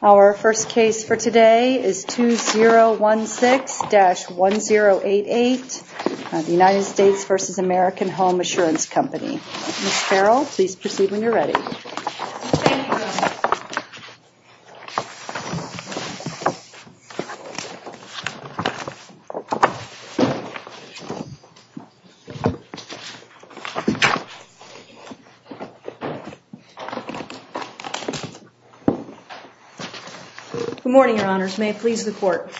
Our first case for today is 2016-1088 United States v. American Home Assurance Company. Ms. Farrell, please proceed when you're ready. Good morning, Your Honors. May it please the Court.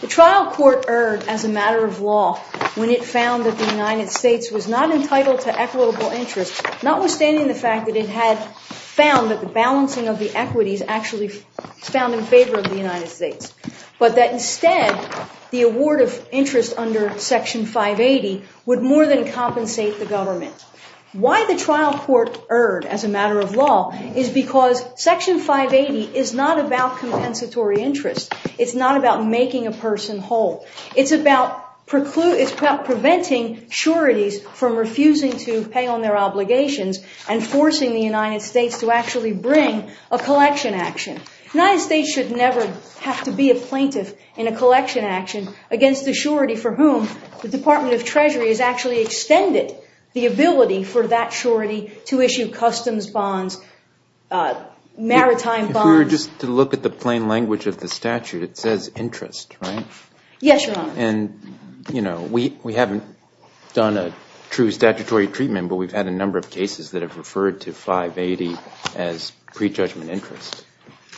The trial court erred as a matter of law when it found that the United States was not entitled to equitable interest, notwithstanding the fact that it had found that the balancing of the equities actually found in favor of the United States. But that instead, the award of interest under Section 580 would more than compensate the government. Why the trial court erred as a matter of law is because Section 580 is not about compensatory interest. It's not about making a person whole. It's about preventing sureties from refusing to pay on their obligations and forcing the United States to actually bring a collection action. The United States should never have to be a plaintiff in a collection action against a surety for whom the Department of Treasury has actually extended the ability for that surety to issue customs bonds, maritime bonds. If we were just to look at the plain language of the statute, it says interest, right? Yes, Your Honors. And we haven't done a true statutory treatment, but we've had a number of cases that have referred to 580 as prejudgment interest.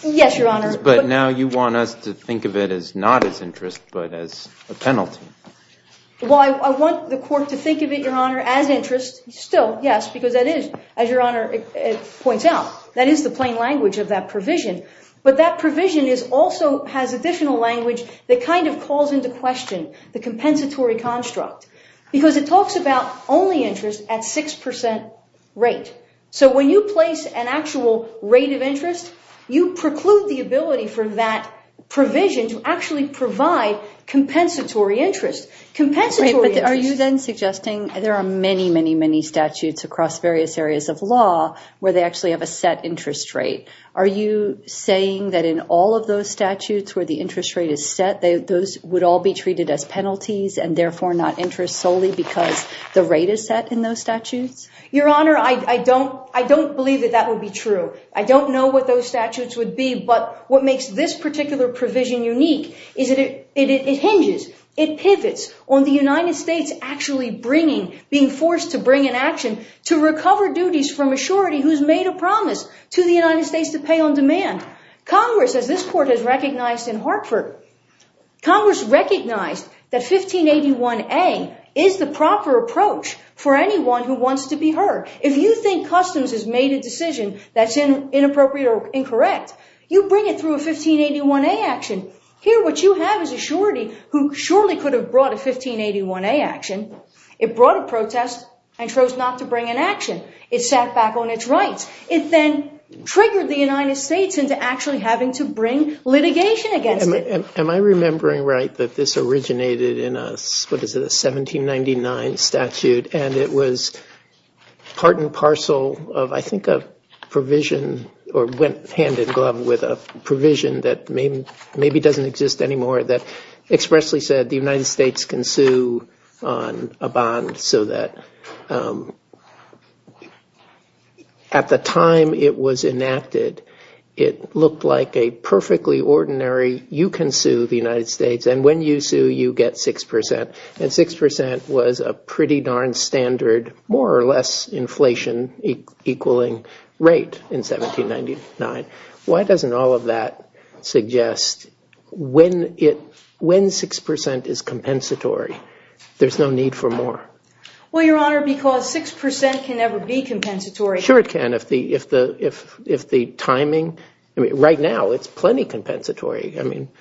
Yes, Your Honor. But now you want us to think of it as not as interest, but as a penalty. Well, I want the Court to think of it, Your Honor, as interest. Still, yes, because that is, as Your Honor points out, that is the plain language of that provision. But that provision also has additional language that kind of calls into question the compensatory construct, because it talks about only interest at 6% rate. So when you place an actual rate of interest, you preclude the ability for that provision to actually provide compensatory interest. Are you then suggesting there are many, many, many statutes across various areas of law where they actually have a set interest rate? Are you saying that in all of those statutes where the interest rate is set, those would all be treated as penalties and therefore not interest solely because the rate is set in those statutes? Your Honor, I don't believe that that would be true. I don't know what those statutes would be. But what makes this particular provision unique is that it hinges, it pivots on the United States actually being forced to bring an action to recover duties from a surety who's made a promise to the United States to pay on demand. Congress, as this Court has recognized in Hartford, Congress recognized that 1581A is the proper approach for anyone who wants to be heard. If you think customs has made a decision that's inappropriate or incorrect, you bring it through a 1581A action. Here, what you have is a surety who surely could have brought a 1581A action. It brought a protest and chose not to bring an action. It sat back on its rights. It then triggered the United States into actually having to bring litigation against it. Am I remembering right that this originated in a 1799 statute and it was part and parcel of I think a provision or went hand in glove with a provision that maybe doesn't exist anymore that expressly said the United States can sue on a bond so that at the time it was enacted, it looked like a perfectly ordinary you can sue the United States and when you sue, you get 6%. And 6% was a pretty darn standard more or less inflation equaling rate in 1799. Why doesn't all of that suggest when 6% is compensatory, there's no need for more? Well, Your Honor, because 6% can never be compensatory. Sure it can if the timing, right now it's plenty compensatory.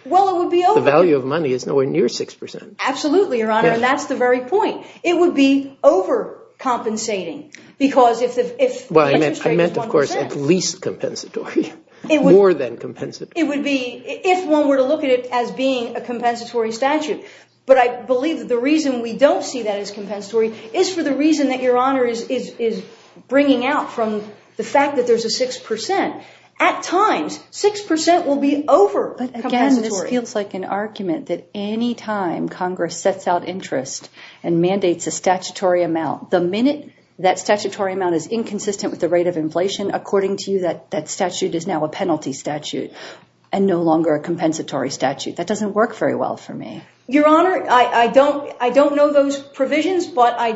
Well, it would be over. The value of money is nowhere near 6%. Absolutely, Your Honor, and that's the very point. It would be overcompensating because if the interest rate is 1%. I meant, of course, at least compensatory, more than compensatory. It would be if one were to look at it as being a compensatory statute. But I believe that the reason we don't see that as compensatory is for the reason that Your Honor is bringing out from the fact that there's a 6%. At times, 6% will be overcompensatory. Again, this feels like an argument that any time Congress sets out interest and mandates a statutory amount, the minute that statutory amount is inconsistent with the rate of inflation, according to you, that statute is now a penalty statute and no longer a compensatory statute. That doesn't work very well for me. Your Honor, I don't know those provisions, but I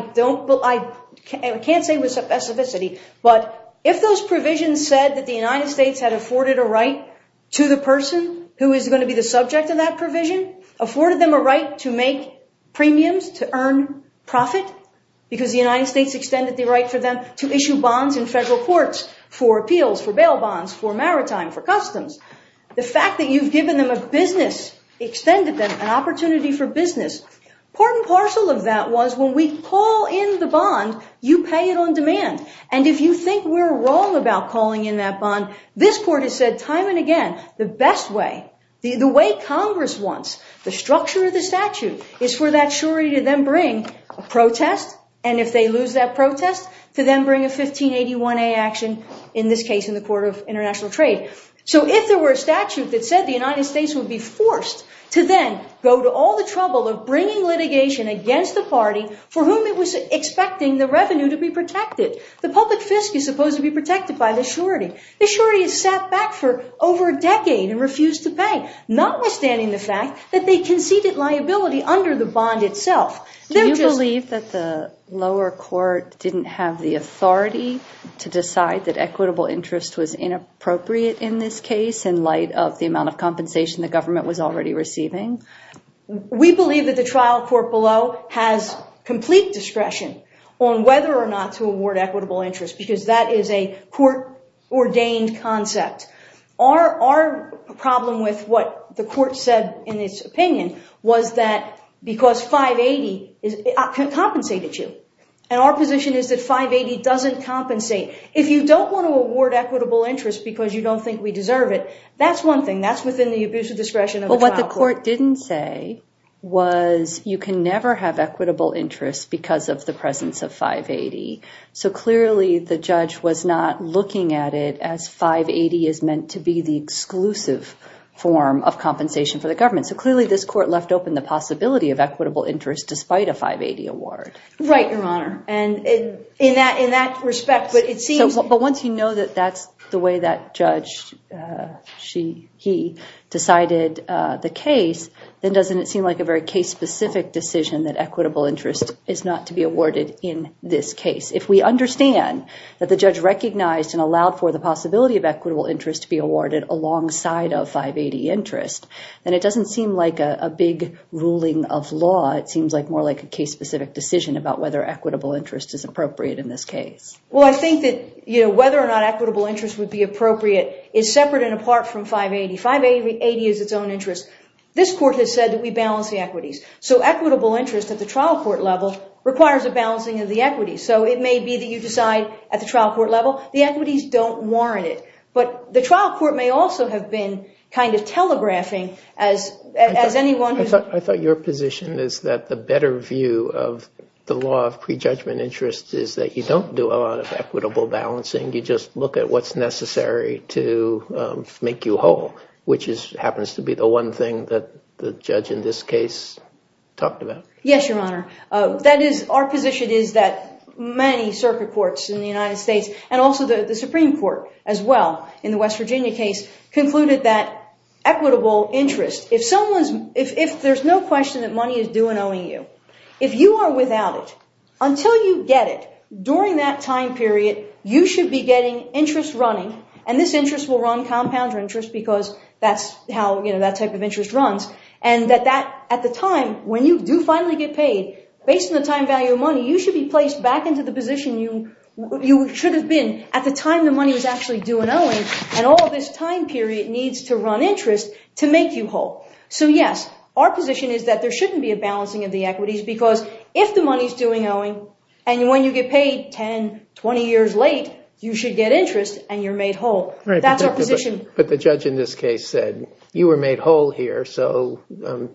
can't say with specificity, but if those provisions said that the United States had afforded a right to the person who is going to be the subject of that provision, afforded them a right to make premiums to earn profit, because the United States extended the right for them to issue bonds in federal courts for appeals, for bail bonds, for maritime, for customs. The fact that you've given them a business, extended them an opportunity for business, part and parcel of that was when we call in the bond, you pay it on demand. And if you think we're wrong about calling in that bond, this Court has said time and again, the best way, the way Congress wants, the structure of the statute, is for that surety to then bring a protest. And if they lose that protest, to then bring a 1581A action, in this case in the Court of International Trade. So if there were a statute that said the United States would be forced to then go to all the trouble of bringing litigation against the party for whom it was expecting the revenue to be protected, the public fisc is supposed to be protected by the surety. The surety has sat back for over a decade and refused to pay, notwithstanding the fact that they conceded liability under the bond itself. Do you believe that the lower court didn't have the authority to decide that equitable interest was inappropriate in this case in light of the amount of compensation the government was already receiving? We believe that the trial court below has complete discretion on whether or not to award equitable interest because that is a court-ordained concept. Our problem with what the court said in its opinion was that because 580 compensated you. And our position is that 580 doesn't compensate. If you don't want to award equitable interest because you don't think we deserve it, that's one thing. That's within the abusive discretion of the trial court. Well, what the court didn't say was you can never have equitable interest because of the presence of 580. So clearly the judge was not looking at it as 580 is meant to be the exclusive form of compensation for the government. So clearly this court left open the possibility of equitable interest despite a 580 award. Right, Your Honor. And in that respect, but it seems... But once you know that that's the way that judge, she, he decided the case, then doesn't it seem like a very case-specific decision that equitable interest is not to be awarded in this case? If we understand that the judge recognized and allowed for the possibility of equitable interest to be awarded alongside of 580 interest, then it doesn't seem like a big ruling of law. It seems more like a case-specific decision about whether equitable interest is appropriate in this case. Well, I think that whether or not equitable interest would be appropriate is separate and apart from 580. 580 is its own interest. This court has said that we balance the equities. So equitable interest at the trial court level requires a balancing of the equities. So it may be that you decide at the trial court level the equities don't warrant it. But the trial court may also have been kind of telegraphing as anyone... I thought your position is that the better view of the law of prejudgment interest is that you don't do a lot of equitable balancing. You just look at what's necessary to make you whole, which happens to be the one thing that the judge in this case talked about. Yes, Your Honor. Our position is that many circuit courts in the United States and also the Supreme Court as well in the West Virginia case concluded that equitable interest, if there's no question that money is due and owing you, if you are without it, until you get it, during that time period, you should be getting interest running. And this interest will run compound interest because that's how that type of interest runs. And at the time when you do finally get paid, based on the time value of money, you should be placed back into the position you should have been at the time the money was actually due and owing. And all this time period needs to run interest to make you whole. So, yes, our position is that there shouldn't be a balancing of the equities because if the money is due and owing and when you get paid 10, 20 years late, you should get interest and you're made whole. That's our position. But the judge in this case said you were made whole here, so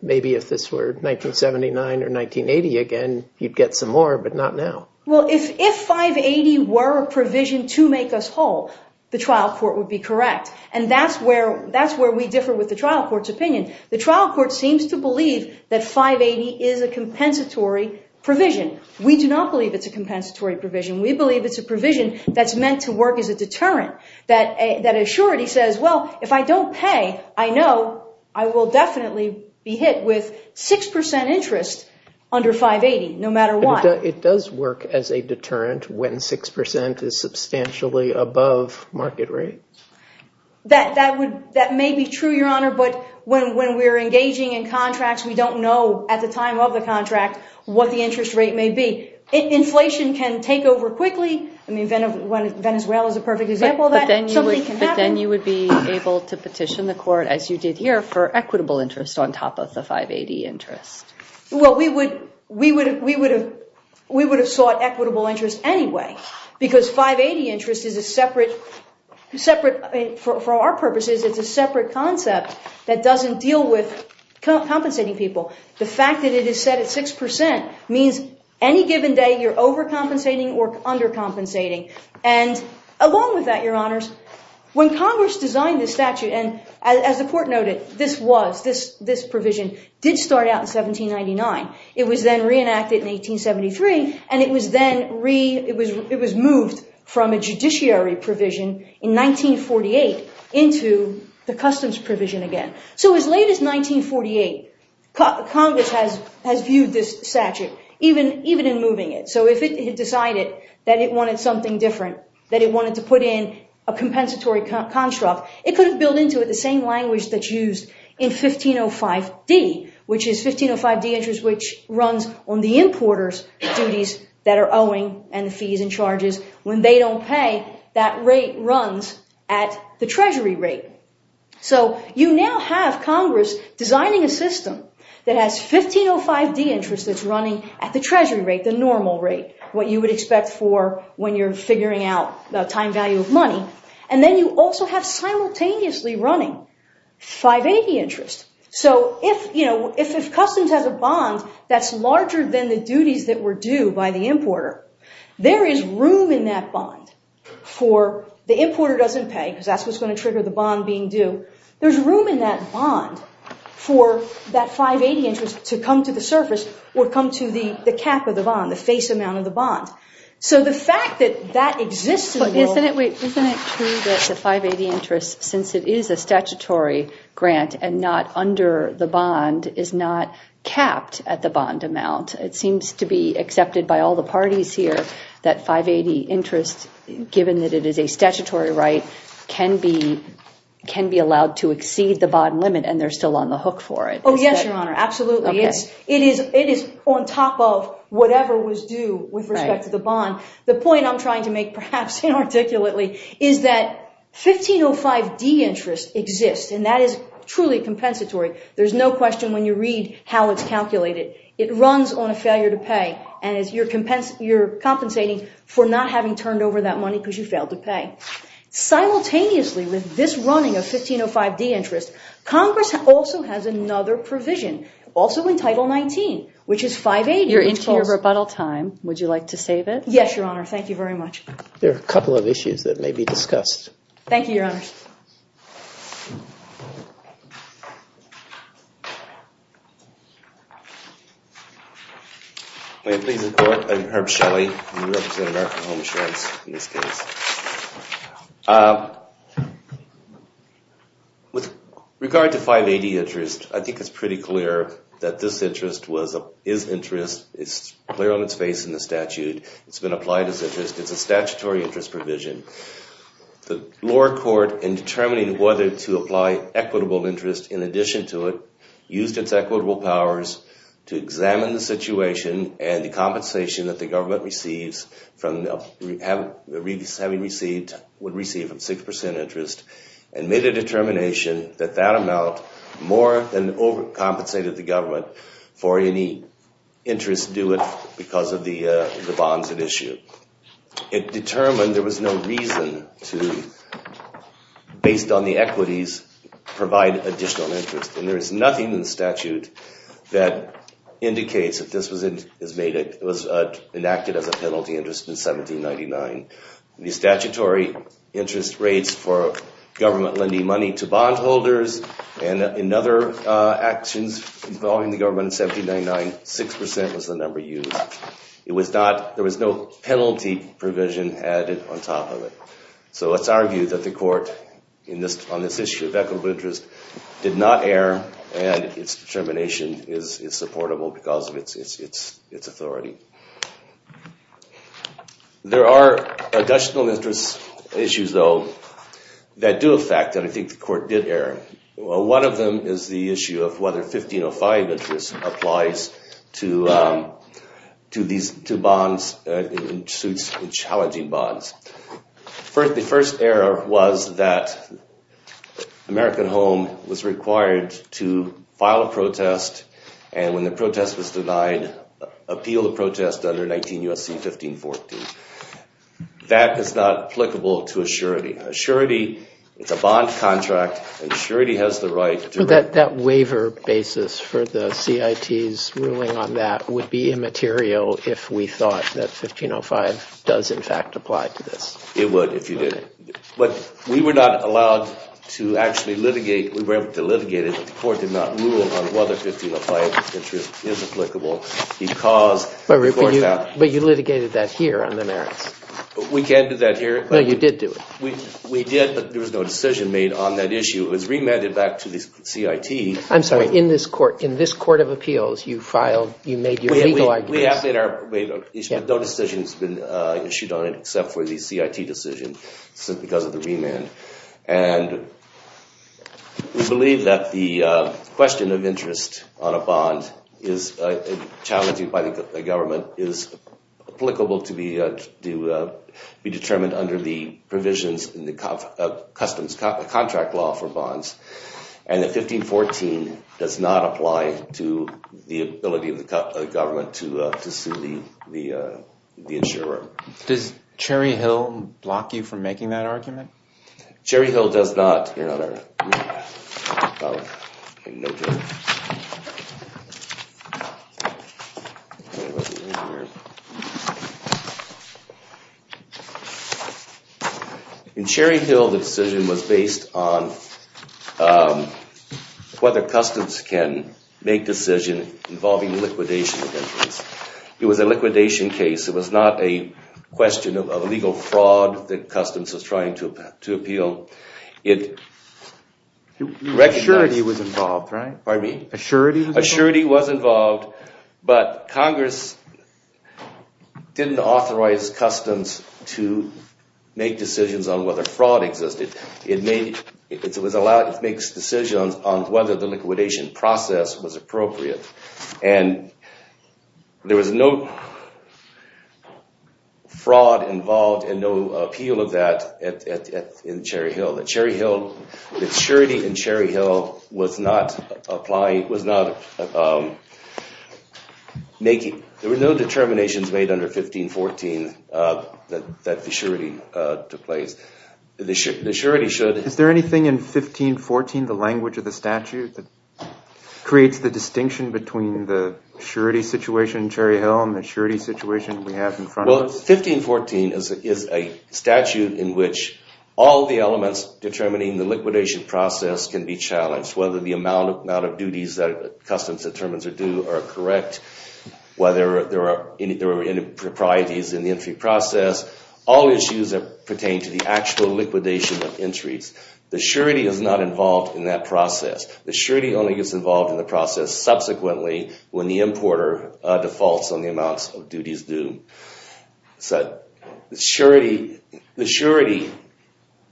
maybe if this were 1979 or 1980 again, you'd get some more, but not now. Well, if 580 were a provision to make us whole, the trial court would be correct. And that's where we differ with the trial court's opinion. The trial court seems to believe that 580 is a compensatory provision. We do not believe it's a compensatory provision. We believe it's a provision that's meant to work as a deterrent, that assurity says, well, if I don't pay, I know I will definitely be hit with 6% interest under 580, no matter what. It does work as a deterrent when 6% is substantially above market rate? That may be true, Your Honor, but when we're engaging in contracts, we don't know at the time of the contract what the interest rate may be. Inflation can take over quickly. I mean, Venezuela is a perfect example of that. But then you would be able to petition the court, as you did here, for equitable interest on top of the 580 interest. Well, we would have sought equitable interest anyway, because 580 interest is a separate, for our purposes, it's a separate concept that doesn't deal with compensating people. The fact that it is set at 6% means any given day you're overcompensating or undercompensating. And along with that, Your Honors, when Congress designed this statute, and as the court noted, this provision did start out in 1799. It was then reenacted in 1873, and it was moved from a judiciary provision in 1948 into the customs provision again. So as late as 1948, Congress has viewed this statute, even in moving it. So if it had decided that it wanted something different, that it wanted to put in a compensatory construct, it could have built into it the same language that's used in 1505d, which is 1505d interest, which runs on the importer's duties that are owing and the fees and charges. When they don't pay, that rate runs at the treasury rate. So you now have Congress designing a system that has 1505d interest that's running at the treasury rate, the normal rate, what you would expect for when you're figuring out the time value of money. And then you also have simultaneously running 580 interest. So if customs has a bond that's larger than the duties that were due by the importer, there is room in that bond for the importer doesn't pay, because that's what's going to trigger the bond being due. There's room in that bond for that 580 interest to come to the surface or come to the cap of the bond, the face amount of the bond. So the fact that that exists in the world... Isn't it true that the 580 interest, since it is a statutory grant and not under the bond, is not capped at the bond amount? It seems to be accepted by all the parties here that 580 interest, given that it is a statutory right, can be allowed to exceed the bond limit and they're still on the hook for it. Oh, yes, Your Honor. Absolutely. It is on top of whatever was due with respect to the bond. The point I'm trying to make, perhaps inarticulately, is that 1505d interest exists and that is truly compensatory. There's no question when you read how it's calculated. It runs on a failure to pay and you're compensating for not having turned over that money because you failed to pay. Simultaneously, with this running of 1505d interest, Congress also has another provision, also in Title 19, which is 580... You're into your rebuttal time. Would you like to save it? Yes, Your Honor. Thank you very much. There are a couple of issues that may be discussed. Thank you, Your Honors. May it please the Court? I'm Herb Shelley. I represent American Home Insurance in this case. With regard to 580 interest, I think it's pretty clear that this interest is interest. It's clear on its face in the statute. It's been applied as interest. It's a statutory interest provision. The lower court, in determining whether to apply equitable interest in addition to it, used its equitable powers to examine the situation and the compensation that the government would receive from 6% interest and made a determination that that amount more than overcompensated the government for any interest due it because of the bonds it issued. It determined there was no reason to, based on the equities, provide additional interest. And there is nothing in the statute that indicates that this was enacted as a penalty interest in 1799. The statutory interest rates for government lending money to bondholders and in other actions involving the government in 1799, 6% was the number used. There was no penalty provision added on top of it. So let's argue that the Court, on this issue of equitable interest, did not err and its determination is supportable because of its authority. There are additional interest issues, though, that do affect and I think the Court did err. One of them is the issue of whether 1505 interest applies to bonds, challenging bonds. The first error was that American Home was required to file a protest and when the protest was denied, appeal the protest under 19 U.S.C. 1514. That is not applicable to a surety. A surety is a bond contract and a surety has the right to... But that waiver basis for the CIT's ruling on that would be immaterial if we thought that 1505 does in fact apply to this. It would if you did. But we were not allowed to actually litigate, we were able to litigate it, but the Court did not rule on whether 1505 interest is applicable because... But you litigated that here on the merits. We can't do that here. No, you did do it. We did, but there was no decision made on that issue. It was remanded back to the CIT. I'm sorry, in this Court of Appeals, you filed, you made your legal arguments. We have made our, but no decision has been issued on it except for the CIT decision because of the remand. And we believe that the question of interest on a bond is challenged by the government, is applicable to be determined under the provisions in the customs contract law for bonds. And the 1514 does not apply to the ability of the government to sue the insurer. Does Cherry Hill block you from making that argument? Cherry Hill does not. In Cherry Hill, the decision was based on whether customs can make decision involving liquidation of interest. It was a liquidation case. It was not a question of illegal fraud that customs was trying to appeal. Assurity was involved, right? Pardon me? Assurity was involved. Assurity was involved, but Congress didn't authorize customs to make decisions on whether fraud existed. It makes decisions on whether the liquidation process was appropriate. And there was no fraud involved and no appeal of that in Cherry Hill. The Cherry Hill, the surety in Cherry Hill was not applying, was not making, there were no determinations made under 1514 that the surety took place. Is there anything in 1514, the language of the statute, that creates the distinction between the surety situation in Cherry Hill and the surety situation we have in front of us? Well, 1514 is a statute in which all the elements determining the liquidation process can be challenged, whether the amount of duties that customs determines are due are correct, whether there are any proprieties in the entry process. All issues pertain to the actual liquidation of entries. The surety is not involved in that process. The surety only gets involved in the process subsequently when the importer defaults on the amounts of duties due. So the surety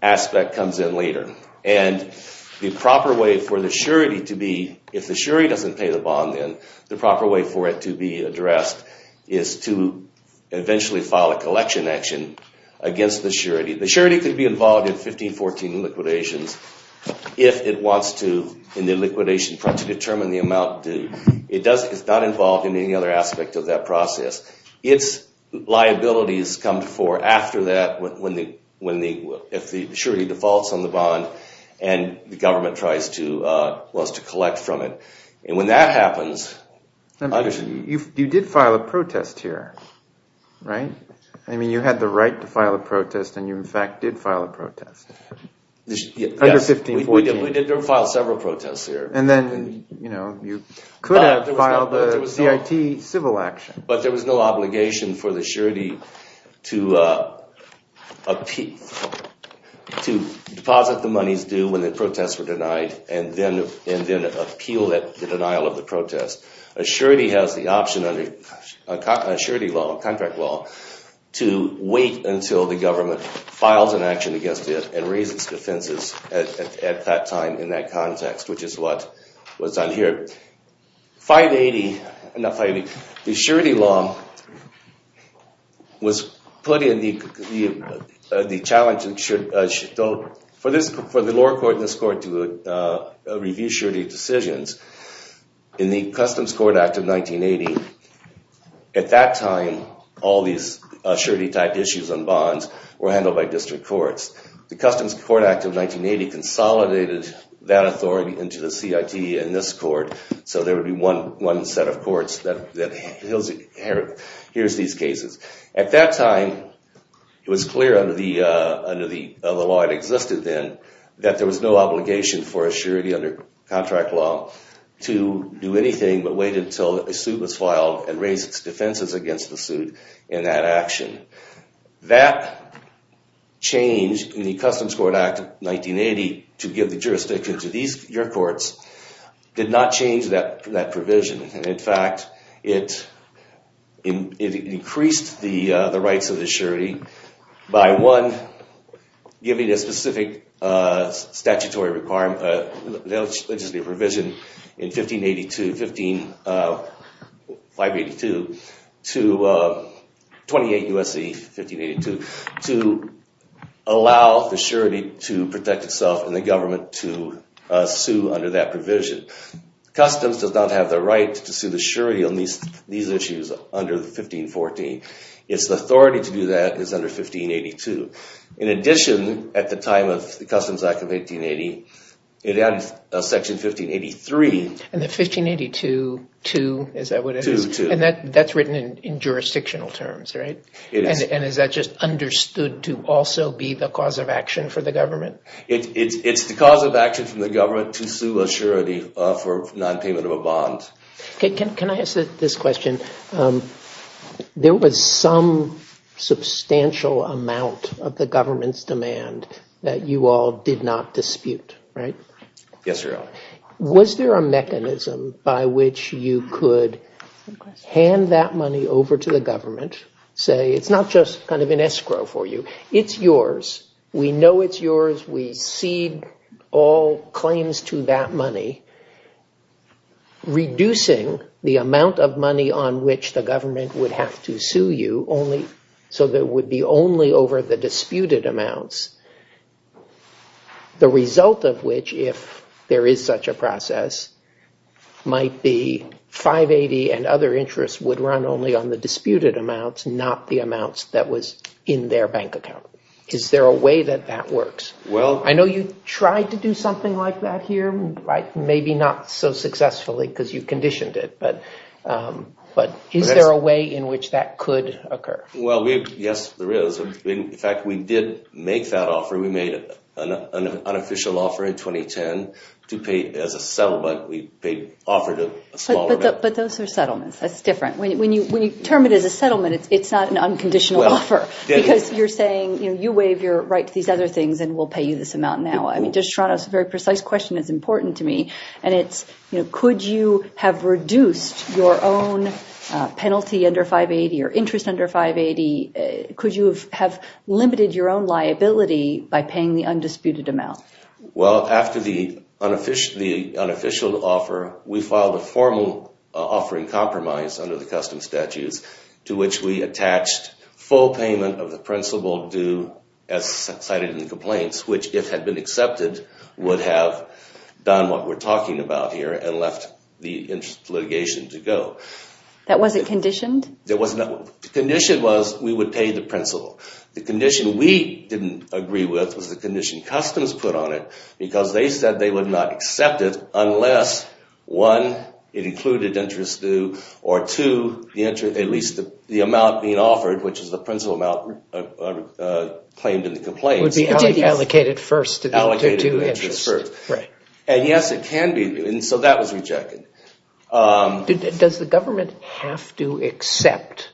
aspect comes in later. And the proper way for the surety to be, if the surety doesn't pay the bond then, the proper way for it to be addressed is to eventually file a collection action against the surety. The surety could be involved in 1514 liquidations if it wants to, in the liquidation, try to determine the amount due. It's not involved in any other aspect of that process. It's liabilities come before, after that, when the, if the surety defaults on the bond and the government tries to, wants to collect from it. And when that happens... You did file a protest here, right? I mean, you had the right to file a protest and you, in fact, did file a protest under 1514. Yes, we did file several protests here. And then, you know, you could have filed a CIT civil action. But there was no obligation for the surety to deposit the monies due when the protests were denied and then appeal the denial of the protest. A surety has the option under surety law, contract law, to wait until the government files an action against it and raises defenses at that time in that context, which is what's on here. 580, not 580, the surety law was put in the challenge for the lower court and this court to review surety decisions. In the Customs Court Act of 1980, at that time, all these surety-type issues on bonds were handled by district courts. The Customs Court Act of 1980 consolidated that authority into the CIT and this court. So there would be one set of courts that hears these cases. At that time, it was clear under the law that existed then that there was no obligation for a surety under contract law to do anything but wait until a suit was filed and raise its defenses against the suit in that action. That change in the Customs Court Act of 1980 to give the jurisdiction to your courts did not change that provision. In fact, it increased the rights of the surety by, one, giving a specific statutory provision in 1582 to allow the surety to protect itself and the government to sue under that provision. Customs does not have the right to sue the surety on these issues under 1514. Its authority to do that is under 1582. In addition, at the time of the Customs Act of 1880, it had Section 1583. And the 1582-2, is that what it is? 2-2. And that's written in jurisdictional terms, right? It is. And is that just understood to also be the cause of action for the government? It's the cause of action for the government to sue a surety for nonpayment of a bond. Can I ask this question? There was some substantial amount of the government's demand that you all did not dispute, right? Yes, Your Honor. Was there a mechanism by which you could hand that money over to the government, say, it's not just kind of an escrow for you. It's yours. We know it's yours. We cede all claims to that money, reducing the amount of money on which the government would have to sue you, so that it would be only over the disputed amounts. The result of which, if there is such a process, might be 580 and other interests would run only on the disputed amounts, not the amounts that was in their bank account. Is there a way that that works? I know you tried to do something like that here, maybe not so successfully because you conditioned it. But is there a way in which that could occur? Well, yes, there is. In fact, we did make that offer. We made an unofficial offer in 2010 to pay as a settlement. We paid off a smaller amount. But those are settlements. That's different. When you term it as a settlement, it's not an unconditional offer because you're saying, you know, you waive your right to these other things and we'll pay you this amount now. I mean, just trying to ask a very precise question is important to me, and it's, you know, could you have reduced your own penalty under 580 or interest under 580? Could you have limited your own liability by paying the undisputed amount? Well, after the unofficial offer, we filed a formal offering compromise under the custom statutes to which we attached full payment of the principal due as cited in the complaints, which, if had been accepted, would have done what we're talking about here and left the interest litigation to go. That wasn't conditioned? It wasn't. The condition was we would pay the principal. The condition we didn't agree with was the condition customs put on it because they said they would not accept it unless, one, it included interest due, or, two, at least the amount being offered, which is the principal amount claimed in the complaints. It would be allocated first. Allocated due interest first. Right. And, yes, it can be. And so that was rejected. Does the government have to accept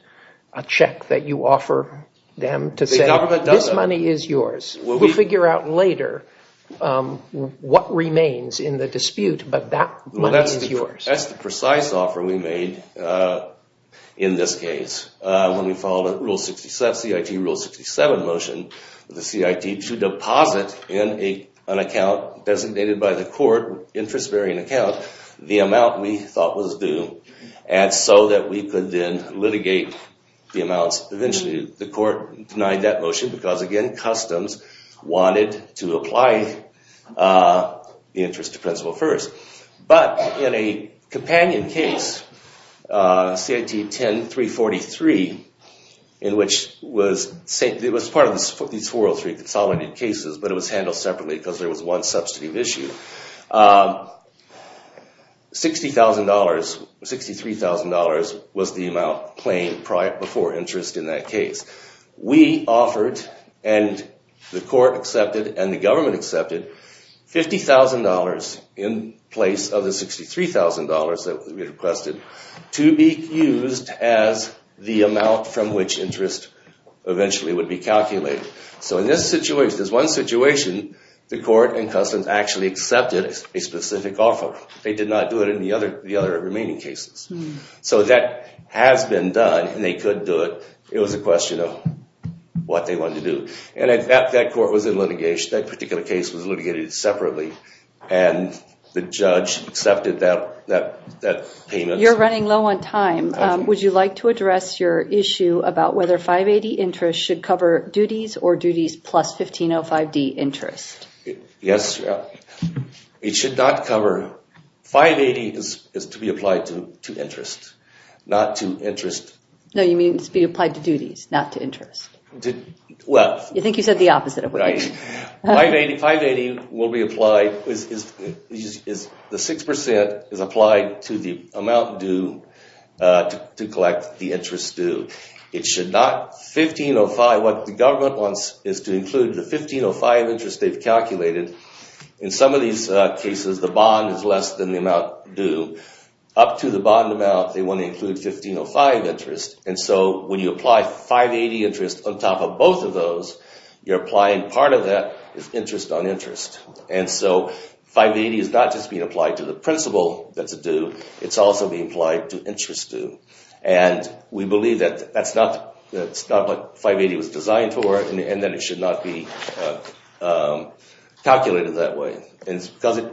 a check that you offer them to say this money is yours? We'll figure out later what remains in the dispute, but that money is yours. That's the precise offer we made in this case. When we followed CIT Rule 67 motion, the CIT to deposit in an account designated by the court, interest-bearing account, the amount we thought was due, and so that we could then litigate the amounts eventually. The court denied that motion because, again, customs wanted to apply the interest to principal first. But in a companion case, CIT 10-343, in which it was part of these 403 consolidated cases, but it was handled separately because there was one substantive issue, $60,000, $63,000 was the amount claimed before interest in that case. We offered, and the court accepted and the government accepted, $50,000 in place of the $63,000 that we requested to be used as the amount from which interest eventually would be calculated. So in this situation, there's one situation the court and customs actually accepted a specific offer. They did not do it in the other remaining cases. So that has been done, and they couldn't do it. It was a question of what they wanted to do. And that court was in litigation. That particular case was litigated separately, and the judge accepted that payment. You're running low on time. Would you like to address your issue about whether 580 interest should cover duties or duties plus 1505D interest? Yes. It should not cover. 580 is to be applied to interest, not to interest. No, you mean to be applied to duties, not to interest. Well. I think you said the opposite of what you said. Right. 580 will be applied. The 6% is applied to the amount due to collect the interest due. It should not. 1505, what the government wants is to include the 1505 interest they've calculated. In some of these cases, the bond is less than the amount due. Up to the bond amount, they want to include 1505 interest. And so when you apply 580 interest on top of both of those, you're applying part of that interest on interest. And so 580 is not just being applied to the principal that's due. It's also being applied to interest due. And we believe that that's not what 580 was designed for and that it should not be calculated that way. And it's because it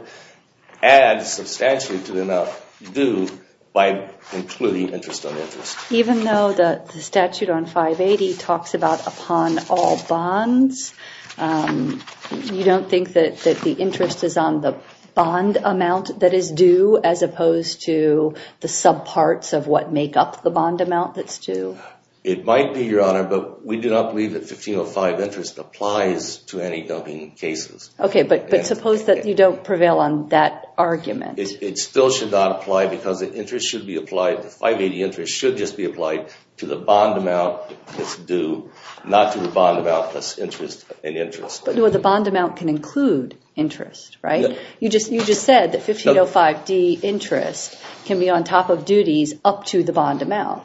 adds substantially to the amount due by including interest on interest. Even though the statute on 580 talks about upon all bonds, you don't think that the interest is on the bond amount that is due as opposed to the subparts of what make up the bond amount that's due? It might be, Your Honor. But we do not believe that 1505 interest applies to any dubbing cases. Okay. But suppose that you don't prevail on that argument. It still should not apply because the interest should be applied. The 580 interest should just be applied to the bond amount that's due, not to the bond amount plus interest and interest. But the bond amount can include interest, right? You just said that 1505D interest can be on top of duties up to the bond amount.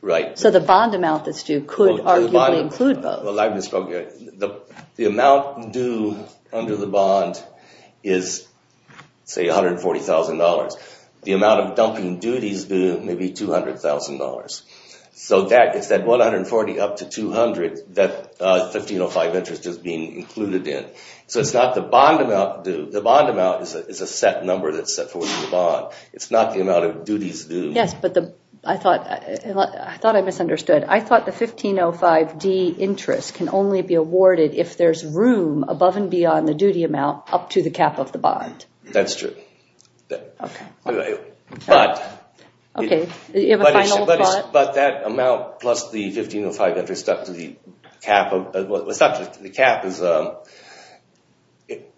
Right. So the bond amount that's due could arguably include both. Well, I've just spoken. The amount due under the bond is, say, $140,000. The amount of dumping duties due may be $200,000. So it's that 140 up to 200 that 1505 interest is being included in. So it's not the bond amount due. The bond amount is a set number that's set for the bond. It's not the amount of duties due. Yes, but I thought I misunderstood. I thought the 1505D interest can only be awarded if there's room above and beyond the duty amount up to the cap of the bond. That's true. Okay. But that amount plus the 1505 interest up to the cap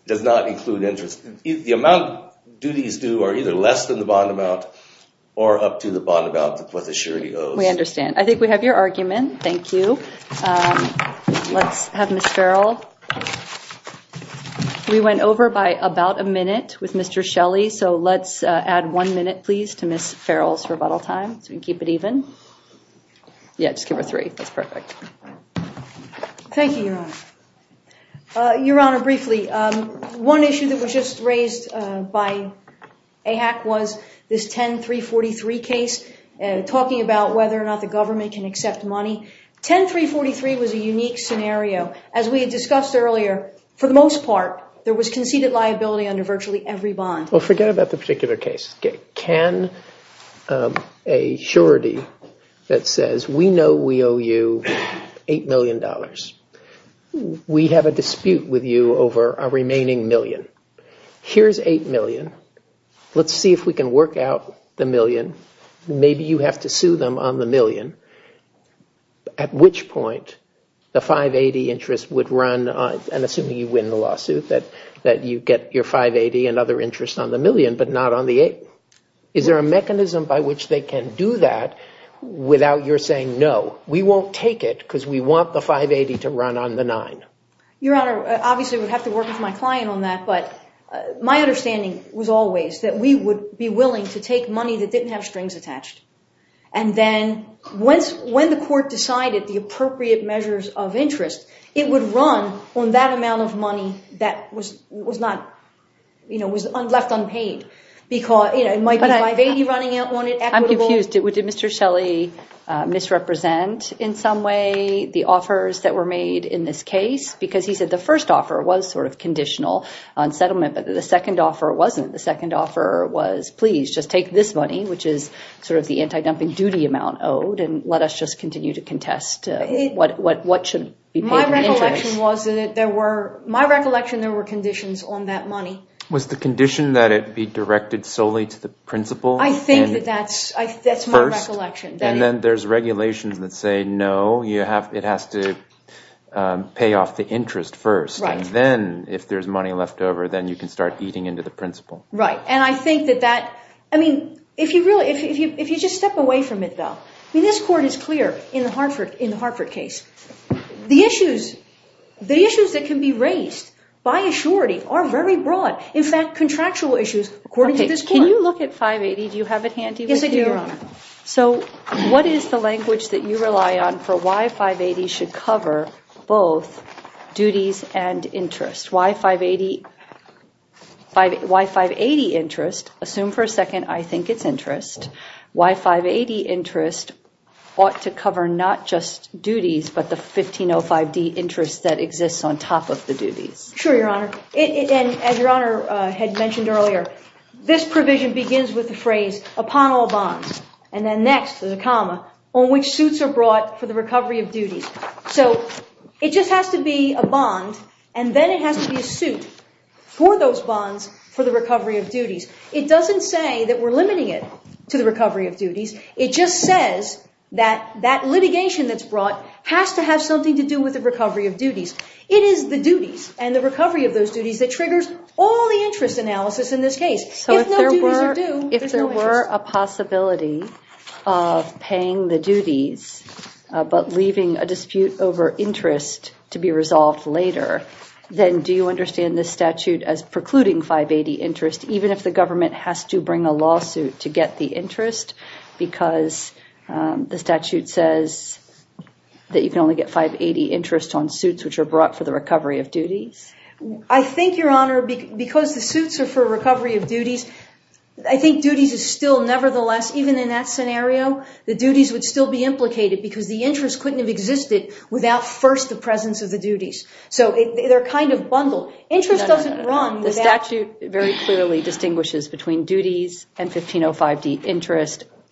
does not include interest. The amount duties due are either less than the bond amount or up to the bond amount, what the surety owes. We understand. I think we have your argument. Thank you. Let's have Ms. Farrell. We went over by about a minute with Mr. Shelley. So let's add one minute, please, to Ms. Farrell's rebuttal time so we can keep it even. Yeah, just give her three. That's perfect. Thank you, Your Honor. Your Honor, briefly, one issue that was just raised by AHAC was this 10343 case, talking about whether or not the government can accept money. 10343 was a unique scenario. As we had discussed earlier, for the most part, there was conceded liability under virtually every bond. Well, forget about the particular case. Can a surety that says we know we owe you $8 million, we have a dispute with you over our remaining million. Here's $8 million. Let's see if we can work out the million. Maybe you have to sue them on the million, at which point the 580 interest would run, and assuming you win the lawsuit, that you get your 580 and other interest on the million, but not on the 8. Is there a mechanism by which they can do that without your saying, no, we won't take it because we want the 580 to run on the 9? Your Honor, obviously, I would have to work with my client on that, but my understanding was always that we would be willing to take money that didn't have strings attached. And then when the court decided the appropriate measures of interest, it would run on that amount of money that was left unpaid. It might be 580 running on it, equitable. Did Mr. Shelley misrepresent in some way the offers that were made in this case? Because he said the first offer was sort of conditional on settlement, but the second offer wasn't. The second offer was, please, just take this money, which is sort of the anti-dumping duty amount owed, and let us just continue to contest what should be paid in interest. My recollection was that there were conditions on that money. Was the condition that it be directed solely to the principal? I think that that's my recollection. And then there's regulations that say, no, it has to pay off the interest first. Right. And then if there's money left over, then you can start eating into the principal. Right. And I think that that, I mean, if you just step away from it, though. I mean, this court is clear in the Hartford case. The issues that can be raised by assurity are very broad. In fact, contractual issues, according to this court. Can you look at 580? Do you have it handy with you? Yes, I do, Your Honor. So what is the language that you rely on for why 580 should cover both duties and interest? Why 580 interest? Assume for a second I think it's interest. Why 580 interest ought to cover not just duties, but the 1505D interest that exists on top of the duties? Sure, Your Honor. As Your Honor had mentioned earlier, this provision begins with the phrase, upon all bonds. And then next, there's a comma, on which suits are brought for the recovery of duties. So it just has to be a bond, and then it has to be a suit for those bonds for the recovery of duties. It doesn't say that we're limiting it to the recovery of duties. It just says that that litigation that's brought has to have something to do with the recovery of duties. It is the duties and the recovery of those duties that triggers all the interest analysis in this case. If no duties are due, there's no interest. So if there were a possibility of paying the duties, but leaving a dispute over interest to be resolved later, then do you understand this statute as precluding 580 interest, even if the government has to bring a lawsuit to get the interest, because the statute says that you can only get 580 interest on suits which are brought for the recovery of duties? I think, Your Honor, because the suits are for recovery of duties, I think duties is still nevertheless, even in that scenario, the duties would still be implicated, because the interest couldn't have existed without first the presence of the duties. So they're kind of bundled. Interest doesn't run without...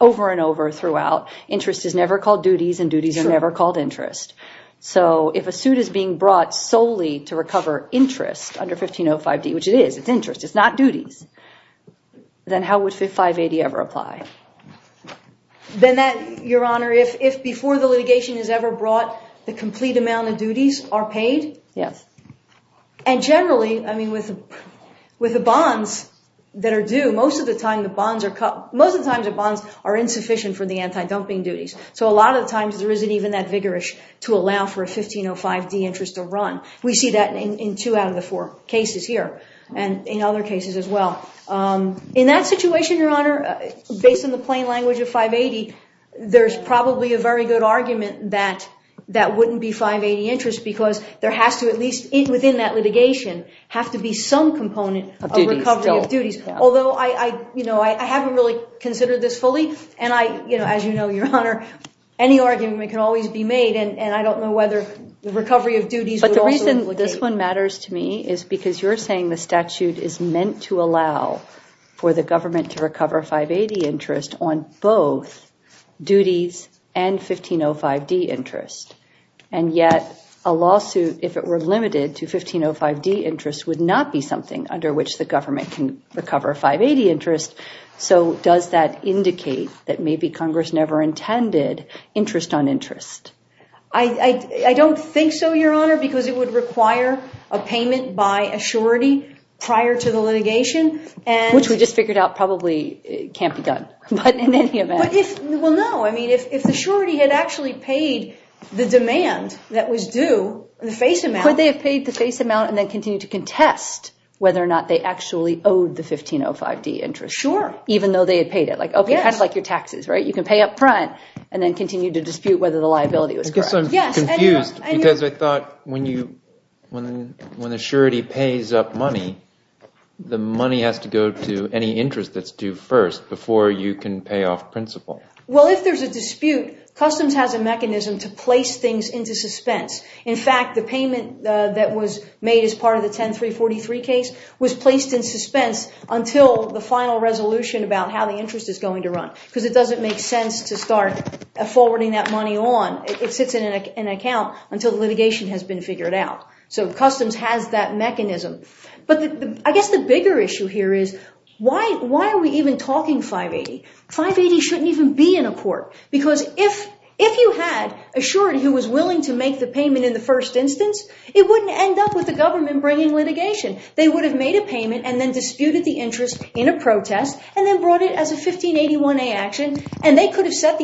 over and over throughout. Interest is never called duties and duties are never called interest. So if a suit is being brought solely to recover interest under 1505D, which it is, it's interest, it's not duties, then how would 580 ever apply? Then that, Your Honor, if before the litigation is ever brought, the complete amount of duties are paid? Yes. And generally, I mean, with the bonds that are due, most of the time the bonds are cut. Most of the times the bonds are insufficient for the anti-dumping duties. So a lot of the times there isn't even that vigorous to allow for a 1505D interest to run. We see that in two out of the four cases here and in other cases as well. In that situation, Your Honor, based on the plain language of 580, there's probably a very good argument that that wouldn't be 580 interest, because there has to at least, within that litigation, have to be some component of recovery of duties. Although I haven't really considered this fully. And as you know, Your Honor, any argument can always be made, and I don't know whether the recovery of duties would also implicate. But the reason this one matters to me is because you're saying the statute is meant to allow for the government to recover 580 interest on both duties and 1505D interest. And yet a lawsuit, if it were limited to 1505D interest, would not be something under which the government can recover 580 interest. So does that indicate that maybe Congress never intended interest on interest? I don't think so, Your Honor, because it would require a payment by a surety prior to the litigation. Which we just figured out probably can't be done. But in any event. Well, no. I mean, if the surety had actually paid the demand that was due, the face amount. And then continue to contest whether or not they actually owed the 1505D interest. Sure. Even though they had paid it. Yes. Kind of like your taxes, right? You can pay up front and then continue to dispute whether the liability was correct. I guess I'm confused because I thought when the surety pays up money, the money has to go to any interest that's due first before you can pay off principal. Well, if there's a dispute, customs has a mechanism to place things into suspense. In fact, the payment that was made as part of the 10343 case was placed in suspense until the final resolution about how the interest is going to run. Because it doesn't make sense to start forwarding that money on. It sits in an account until the litigation has been figured out. So customs has that mechanism. But I guess the bigger issue here is why are we even talking 580? 580 shouldn't even be in a court. Because if you had a surety who was willing to make the payment in the first instance, it wouldn't end up with the government bringing litigation. They would have made a payment and then disputed the interest in a protest and then brought it as a 1581A action, and they could have set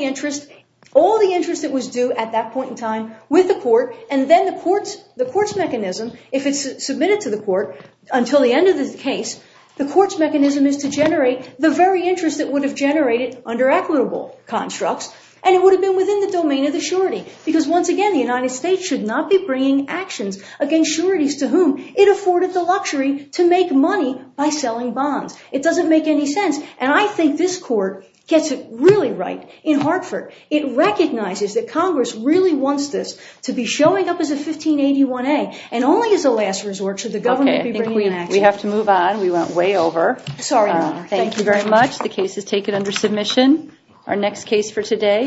all the interest that was due at that point in time with the court, and then the court's mechanism, if it's submitted to the court until the end of the case, the court's mechanism is to generate the very interest that would have generated under equitable constructs, and it would have been within the domain of the surety. Because once again, the United States should not be bringing actions against sureties to whom it afforded the luxury to make money by selling bonds. It doesn't make any sense. And I think this court gets it really right in Hartford. It recognizes that Congress really wants this to be showing up as a 1581A and only as a last resort should the government be bringing action. We have to move on. We went way over. Sorry, ma'am. Thank you very much. The case is taken under submission. Our next case for today.